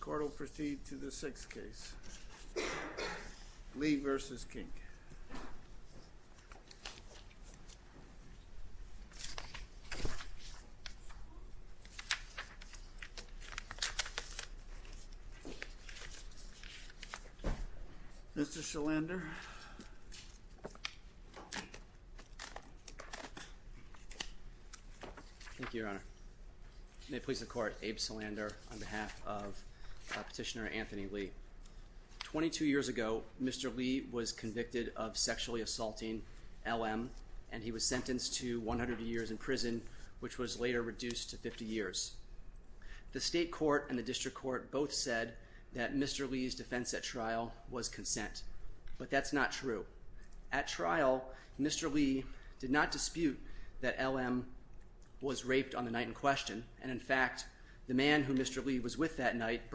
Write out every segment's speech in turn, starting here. Court will proceed to the sixth case. Lee v. Kink. Mr. Salander. Thank you, Your Honor. May it please the Court, Abe Salander on behalf of Petitioner Anthony Lee. Twenty-two years ago, Mr. Lee was convicted of sexually assaulting L.M. and he was sentenced to 100 years in prison, which was later reduced to 50 years. The State Court and the District Court both said that Mr. Lee's defense at trial was consent, but that's not true. At trial, Mr. Lee did not dispute that L.M. was raped on the night in which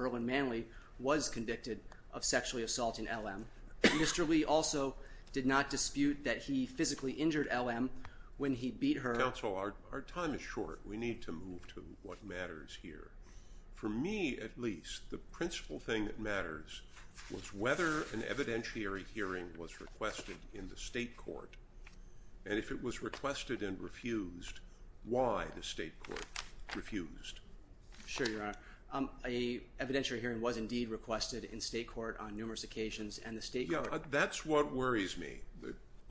he was convicted of sexually assaulting L.M. Mr. Lee also did not dispute that he physically injured L.M. when he beat her. Counsel, our time is short. We need to move to what matters here. For me, at least, the principal thing that matters was whether an evidentiary hearing was requested in the State Court, and if it was requested and refused, why the State Court refused? Sure, Your Honor. An evidentiary hearing was indeed requested in State Court on numerous occasions, and the State Court... Yeah, that's what worries me.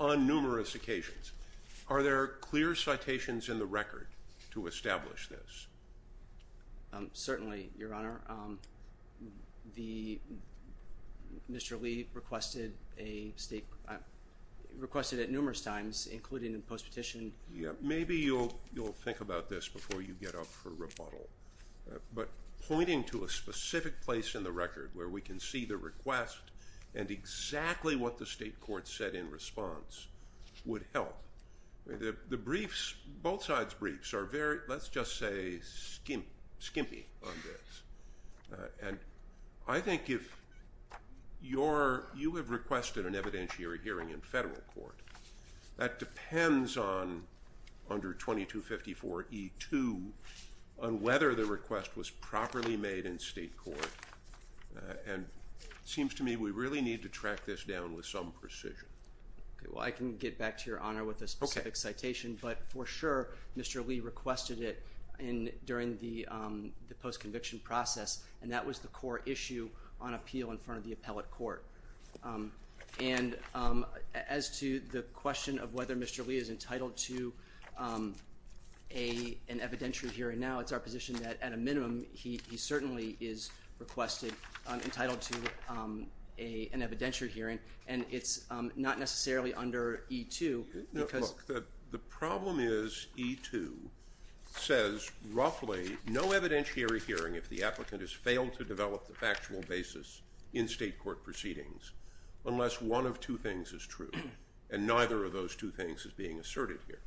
On numerous occasions. Are there clear citations in the record to establish this? Certainly, Your Honor. Mr. Lee, you'll think about this before you get up for rebuttal, but pointing to a specific place in the record where we can see the request and exactly what the State Court said in response would help. The briefs, both sides' briefs, are very, let's just say, skimpy on this, and I think if you're, you have requested an evidentiary hearing in Federal Court. That depends on, under 2254E2, on whether the request was properly made in State Court, and it seems to me we really need to track this down with some precision. Okay, well, I can get back to Your Honor with a specific citation, but for sure, Mr. Lee requested it in, during the post-conviction process, and that was the core issue on appeal in front of the appellate court. And as to the question of whether Mr. Lee is entitled to an evidentiary hearing now, it's our position that, at a minimum, he certainly is requested, entitled to an evidentiary hearing, and it's not necessarily under E2 because... No, look, the problem is E2 says roughly no evidentiary hearing if the applicant has failed to develop the factual basis in State Court proceedings, unless one of two things is true, and neither of those two things is being asserted here.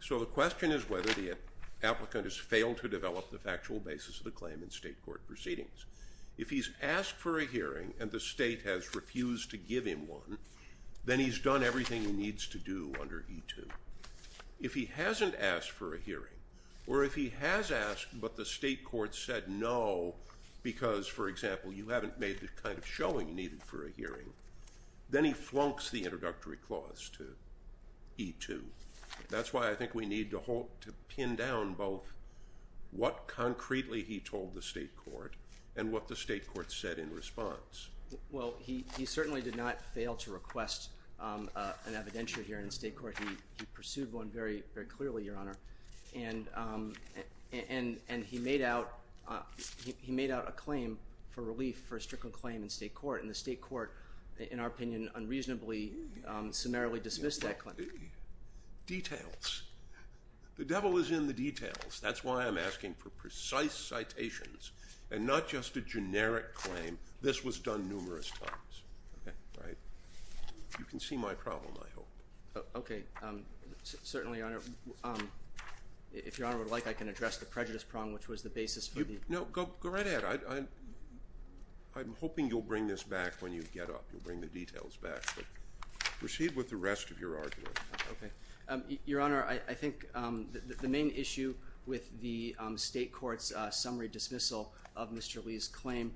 So the question is whether the applicant has failed to develop the factual basis of the claim in State Court proceedings. If he's asked for a hearing and the State has refused to give him one, then he's done everything he needs to do under E2. If he hasn't asked for a hearing and has asked, but the State Court said no because, for example, you haven't made the kind of showing needed for a hearing, then he flunks the introductory clause to E2. That's why I think we need to hold, to pin down both what concretely he told the State Court and what the State Court said in response. Well, he certainly did not fail to request an evidentiary hearing in State Court. He pursued one very clearly, Your Honor, and he made out a claim for relief for a stricter claim in State Court, and the State Court, in our opinion, unreasonably, summarily dismissed that claim. Details. The devil is in the details. That's why I'm asking for precise citations and not just a generic claim. This was done numerous times. You can see my problem, I hope. Okay, certainly, Your Honor. If Your Honor would like, I can address the prejudice prong, which was the basis for the... No, go right ahead. I'm hoping you'll bring this back when you get up. You'll bring the details back. Proceed with the rest of your argument. Okay. Your Honor, I think the main issue with the State Court's summary dismissal of Mr. Lee's claim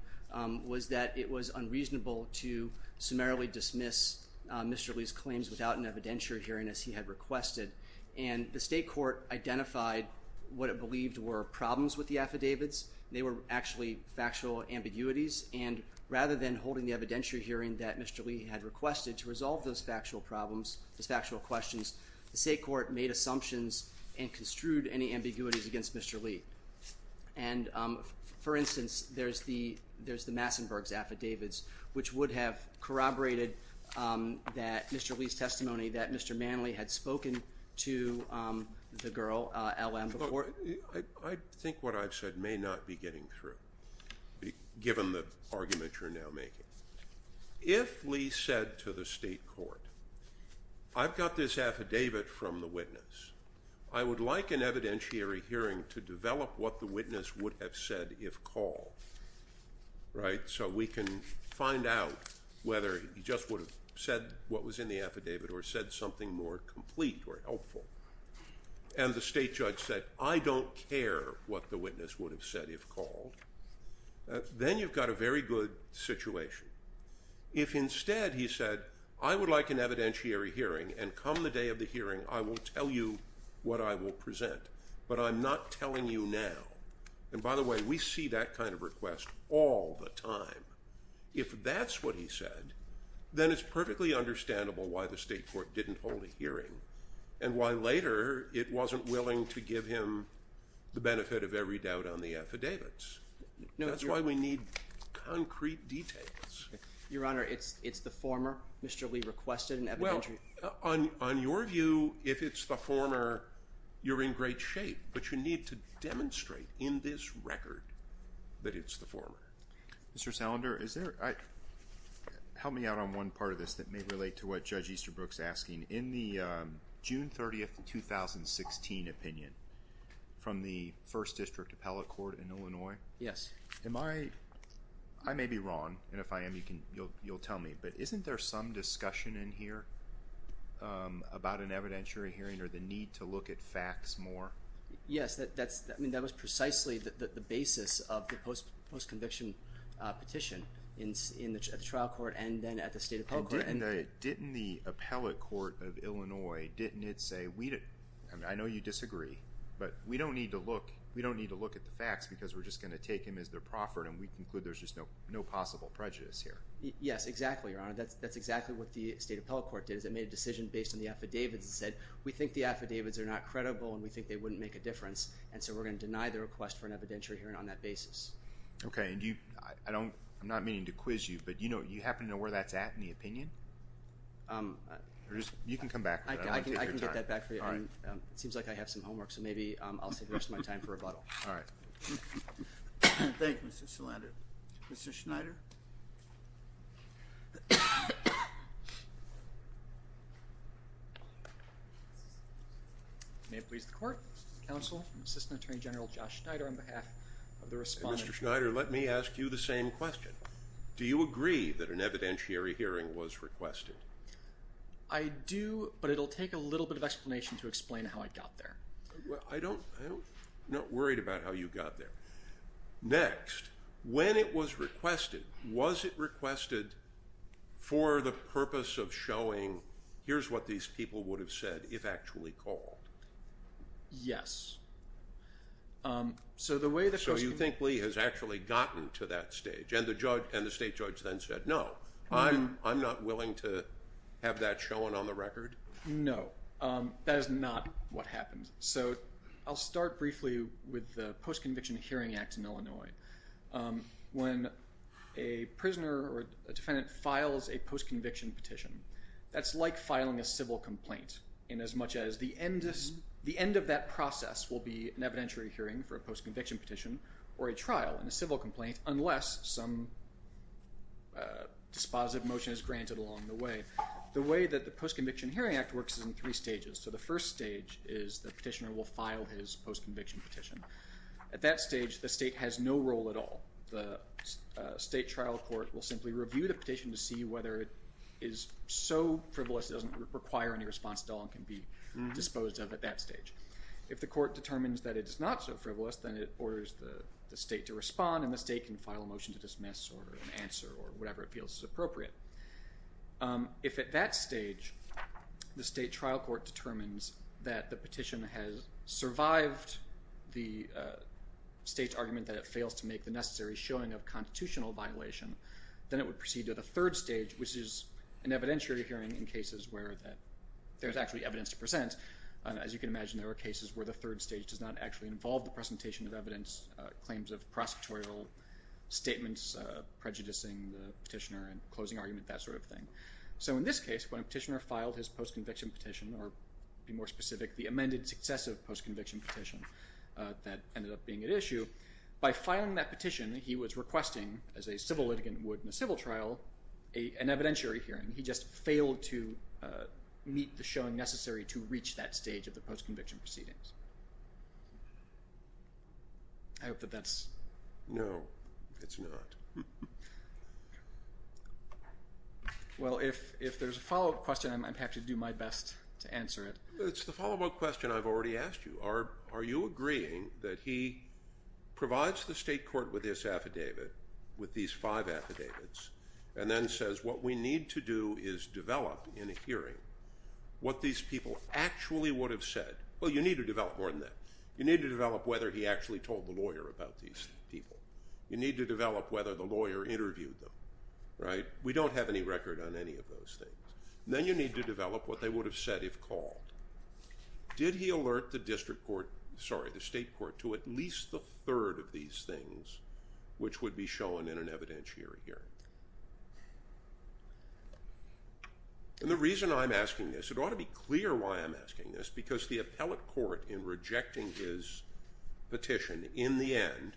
was that it was unreasonable to summarily dismiss Mr. Lee's evidentiary hearing as he had requested, and the State Court identified what it believed were problems with the affidavits. They were actually factual ambiguities, and rather than holding the evidentiary hearing that Mr. Lee had requested to resolve those factual problems, those factual questions, the State Court made assumptions and construed any ambiguities against Mr. Lee. And, for instance, there's the Massenberg's affidavits, which would have corroborated Mr. Lee's testimony that Mr. Manley had spoken to the girl, LM, before... I think what I've said may not be getting through, given the argument you're now making. If Lee said to the State Court, I've got this affidavit from the witness. I would like an evidentiary hearing to develop what the witness would have said if called. Right? So we can find out whether he just would have said what was in the affidavit or said something more complete or helpful. And the state judge said, I don't care what the witness would have said if called. Then you've got a very good situation. If instead he said, I would like an evidentiary hearing, and come the day of the hearing, I will tell you what I will present, but I'm not telling you now. And by the way, we see that kind of request all the time. If that's what he said, then it's perfectly understandable why the State Court didn't hold a hearing and why later it wasn't willing to give him the benefit of every doubt on the affidavits. That's why we need concrete details. Your Honor, it's the former Mr. Lee requested an evidentiary... On your view, if it's the former, you're in great shape, but you need to demonstrate in this record that it's the former. Mr. Salander, help me out on one part of this that may relate to what Judge Easterbrook's asking. In the June 30th, 2016 opinion from the First District Appellate Court in Illinois... Yes. I may be wrong, and if I am, you'll tell me, but isn't there some discussion in here about an evidentiary hearing or the need to look at facts more? Yes, that was precisely the basis of the post-conviction petition in the trial court and then at the State Appellate Court. Didn't the Appellate Court of Illinois, didn't it say, I know you disagree, but we don't need to look at the facts because we're just going to take him as the proffered, and we conclude there's just no possible prejudice here. Yes, exactly, Your Honor. That's exactly what the State Appellate Court did. It made a decision based on the affidavits. It said, we think the affidavits are not credible, and we think they wouldn't make a difference, and so we're going to deny the request for an evidentiary hearing on that basis. Okay, and I'm not meaning to quiz you, but you happen to know where that's at in the opinion? You can come back with that. I can get that back for you. All right. It seems like I have some homework, so maybe I'll save the rest of my time for rebuttal. All right. Thank you, Mr. Salander. Mr. Schneider? May it please the Court. Counsel, Assistant Attorney General Josh Schneider on behalf of the Respondent. Mr. Schneider, let me ask you the same question. Do you agree that an evidentiary hearing was requested? I do, but it will take a little bit of explanation to explain how I got there. I'm not worried about how you got there. Next, when it was requested, was it requested for the purpose of showing, here's what these people would have said if actually called? Yes. So you think Lee has actually gotten to that stage, and the State Judge then said, no. I'm not willing to have that shown on the record. No. That is not what happened. So I'll start briefly with the Post-Conviction Hearing Act in Illinois. When a prisoner or a defendant files a post-conviction petition, that's like filing a civil complaint inasmuch as the end of that process will be an evidentiary hearing for a post-conviction petition or a trial in a civil complaint unless some dispositive motion is granted along the way. The way that the Post-Conviction Hearing Act works is in three stages. So the first stage is the petitioner will file his post-conviction petition. At that stage, the state has no role at all. The state trial court will simply review the petition to see whether it is so frivolous it doesn't require any response at all and can be disposed of at that stage. If the court determines that it is not so frivolous, then it orders the state to respond, and the state can file a motion to dismiss or an answer or whatever it feels is appropriate. If at that stage the state trial court determines that the petition has survived the state's argument that it fails to make the necessary showing of constitutional violation, then it would proceed to the third stage, which is an evidentiary hearing in cases where there's actually evidence to present. As you can imagine, there are cases where the third stage does not actually involve the presentation of evidence, claims of prosecutorial statements, prejudicing the petitioner and closing argument, that sort of thing. So in this case, when a petitioner filed his post-conviction petition, or to be more specific, the amended successive post-conviction petition that ended up being at issue, by filing that petition he was requesting, as a civil litigant would in a civil trial, an evidentiary hearing. He just failed to meet the showing necessary to reach that stage of the post-conviction proceedings. I hope that that's... No, it's not. Well, if there's a follow-up question, I'm happy to do my best to answer it. It's the follow-up question I've already asked you. Are you agreeing that he provides the state court with this affidavit, with these five affidavits, and then says what we need to do is develop in a hearing what these people actually would have said? Well, you need to develop more than that. You need to develop whether he actually told the lawyer about these people. You need to develop whether the lawyer interviewed them. We don't have any record on any of those things. Then you need to develop what they would have said if called. Did he alert the district court, sorry, the state court, to at least the third of these things, which would be shown in an evidentiary hearing? And the reason I'm asking this, it ought to be clear why I'm asking this, because the appellate court in rejecting his petition in the end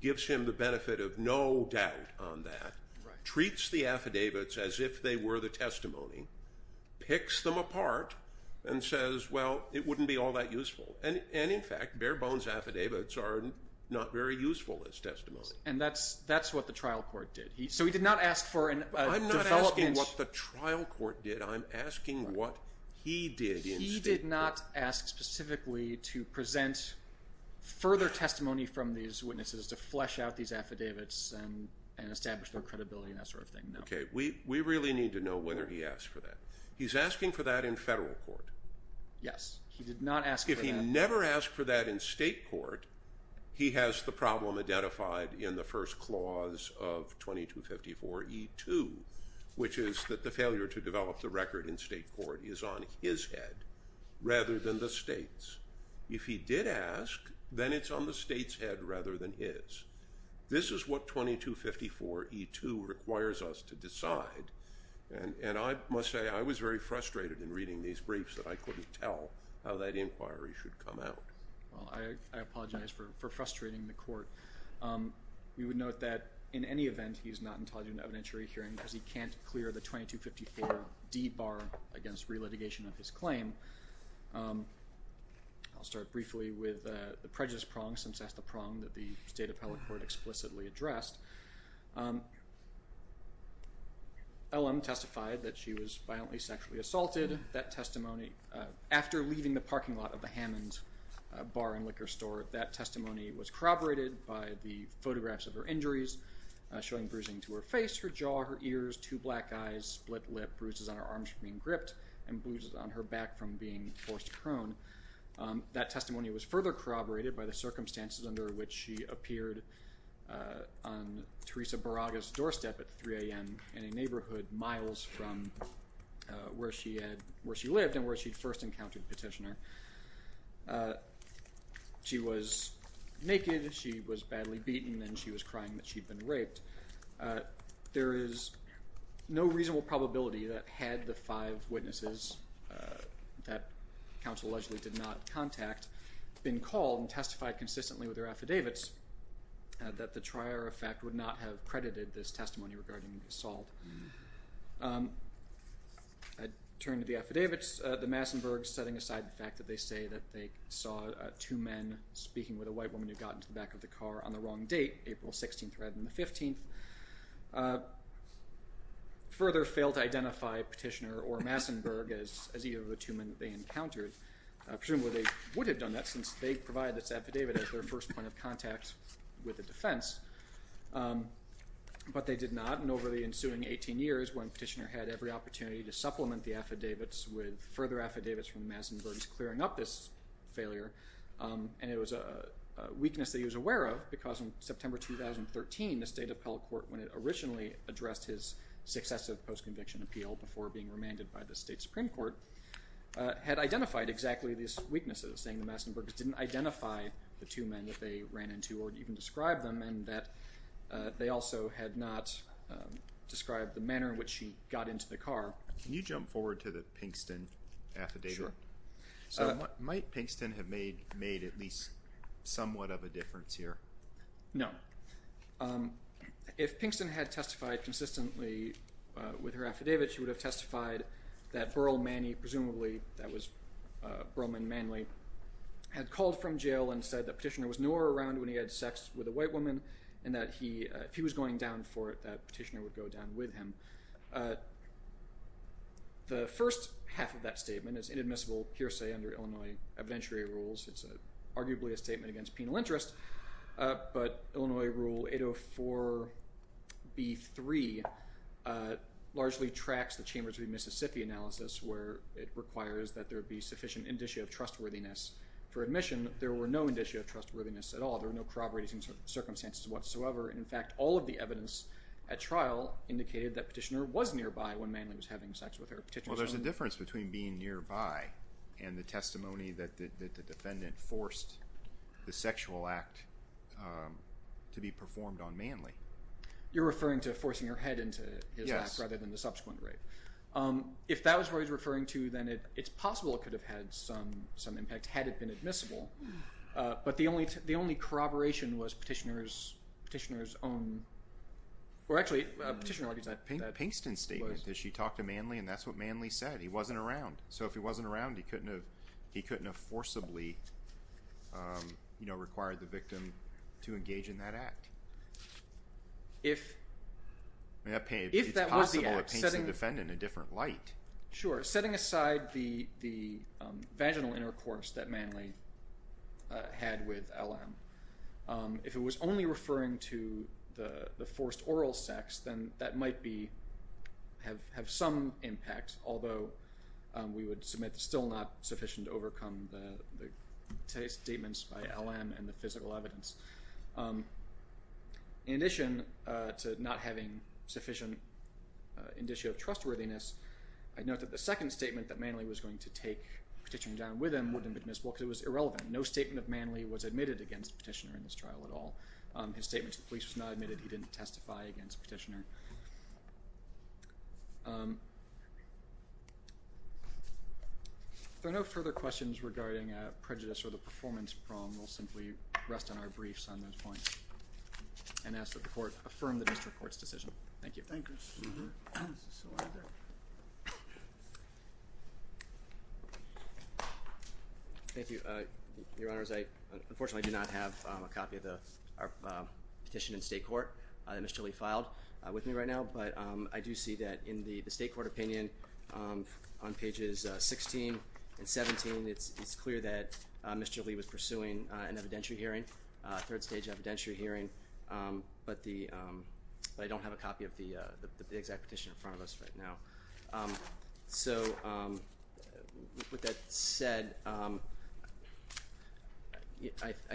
gives him the benefit of no doubt on that, treats the affidavits as if they were the testimony, picks them apart, and says, well, it wouldn't be all that useful. And, in fact, bare bones affidavits are not very useful as testimony. And that's what the trial court did. So he did not ask for a development. I'm not asking what the trial court did. I'm asking what he did in state court. He did not ask specifically to present further testimony from these witnesses, to flesh out these affidavits and establish their credibility and that sort of thing, no. Okay. We really need to know whether he asked for that. He's asking for that in federal court. Yes. He did not ask for that. If he never asked for that in state court, he has the problem identified in the first clause of 2254E2, which is that the failure to develop the record in state court is on his head rather than the state's. If he did ask, then it's on the state's head rather than his. This is what 2254E2 requires us to decide. And I must say I was very frustrated in reading these briefs that I couldn't tell how that inquiry should come out. Well, I apologize for frustrating the court. We would note that in any event, he's not entitled to an evidentiary hearing because he can't clear the 2254D bar against relitigation of his claim. I'll start briefly with the prejudice prong, since that's the prong that the State Appellate Court explicitly addressed. LM testified that she was violently sexually assaulted. That testimony, after leaving the parking lot of the Hammond Bar and Liquor Store, that testimony was corroborated by the photographs of her injuries, showing bruising to her face, her jaw, her ears, two black eyes, split lip, bruises on her arms from being gripped, and bruises on her back from being forced to crone. That testimony was further corroborated by the circumstances under which she appeared on Teresa Baraga's doorstep at 3 a.m. in a neighborhood miles from where she lived and where she'd first encountered Petitioner. She was naked, she was badly beaten, and she was crying that she'd been raped. There is no reasonable probability that, had the five witnesses that counsel allegedly did not contact been called and testified consistently with their affidavits, that the trier of fact would not have credited this testimony regarding the assault. I turn to the affidavits. The Massenbergs, setting aside the fact that they say that they saw two men speaking with a white woman who got into the back of the car on the wrong date, April 16th rather than the 15th, further failed to identify Petitioner or Massenberg as either of the two men that they encountered. Presumably they would have done that since they provided this affidavit as their first point of contact with the defense, but they did not. And over the ensuing 18 years, when Petitioner had every opportunity to supplement the affidavits with further affidavits from the Massenbergs clearing up this failure, and it was a weakness that he was aware of because in September 2013, the State Appellate Court, when it originally addressed his successive post-conviction appeal before being remanded by the State Supreme Court, had identified exactly these weaknesses, saying the Massenbergs didn't identify the two men that they ran into or even describe them, and that they also had not described the manner in which she got into the car. Can you jump forward to the Pinkston affidavit? Sure. So might Pinkston have made at least somewhat of a difference here? No. If Pinkston had testified consistently with her affidavit, she would have testified that Burl Manny, presumably that was Burlman Manly, had called from jail and said that Petitioner was nowhere around when he had sex with a white woman and that if he was going down for it, that Petitioner would go down with him. The first half of that statement is inadmissible hearsay under Illinois evidentiary rules. It's arguably a statement against penal interest, but Illinois Rule 804b-3 largely tracks the Chambers v. Mississippi analysis where it requires that there be sufficient indicia of trustworthiness for admission. There were no indicia of trustworthiness at all. There were no corroborating circumstances whatsoever. In fact, all of the evidence at trial indicated that Petitioner was nearby when Manly was having sex with her. Well, there's a difference between being nearby and the testimony that the defendant forced the sexual act to be performed on Manly. You're referring to forcing her head into his lap rather than the subsequent rape. If that was what he was referring to, then it's possible it could have had some impact had it been admissible, but the only corroboration was Petitioner's own, or actually Petitioner already said that. Pinkston's statement is she talked to Manly, and that's what Manly said. He wasn't around, so if he wasn't around, he couldn't have forcibly required the victim to engage in that act. It's possible it paints the defendant in a different light. Sure. Setting aside the vaginal intercourse that Manly had with LM, if it was only referring to the forced oral sex, then that might have some impact, although we would submit it's still not sufficient to overcome the statements by LM and the physical evidence. In addition to not having sufficient indicio of trustworthiness, I note that the second statement that Manly was going to take Petitioner down with him wouldn't have been admissible because it was irrelevant. No statement of Manly was admitted against Petitioner in this trial at all. His statement to the police was not admitted. He didn't testify against Petitioner. If there are no further questions regarding prejudice or the performance problem, we'll simply rest on our briefs on those points and ask that the Court affirm the District Court's decision. Thank you. Thank you. Your Honors, I unfortunately do not have a copy of the petition in state court that Mr. Lee filed. With me right now, but I do see that in the state court opinion on pages 16 and 17, it's clear that Mr. Lee was pursuing an evidentiary hearing, third stage evidentiary hearing, but I don't have a copy of the exact petition in front of us right now. So, with that said, I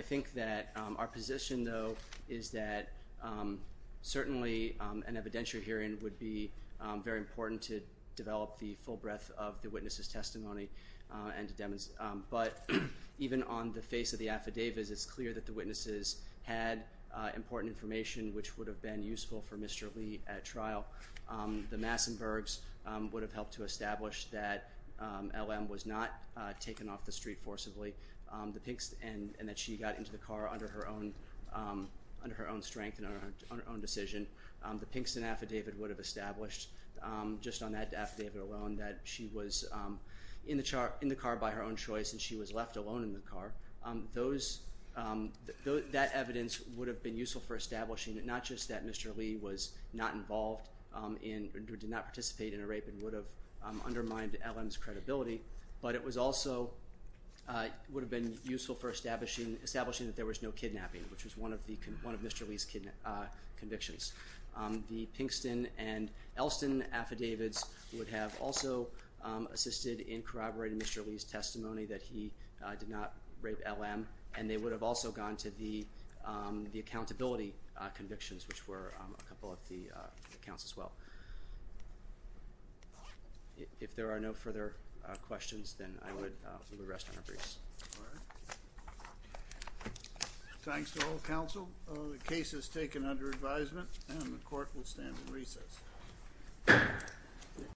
think that our position, though, is that certainly an evidentiary hearing would be very important to develop the full breadth of the witness' testimony. But even on the face of the affidavits, it's clear that the witnesses had important information which would have been useful for Mr. Lee at trial. The Massenbergs would have helped to establish that LM was not taken off the street forcibly and that she got into the car under her own strength and her own decision. The Pinkston affidavit would have established, just on that affidavit alone, that she was in the car by her own choice and she was left alone in the car. That evidence would have been useful for establishing not just that Mr. Lee was not involved in or did not participate in a rape and would have undermined LM's credibility, but it also would have been useful for establishing that there was no kidnapping, which was one of Mr. Lee's convictions. The Pinkston and Elston affidavits would have also assisted in corroborating Mr. Lee's testimony that he did not rape LM, and they would have also gone to the accountability convictions, which were a couple of the accounts as well. If there are no further questions, then I would rest on our briefs. All right. Thanks to all counsel. The case is taken under advisement and the court will stand in recess.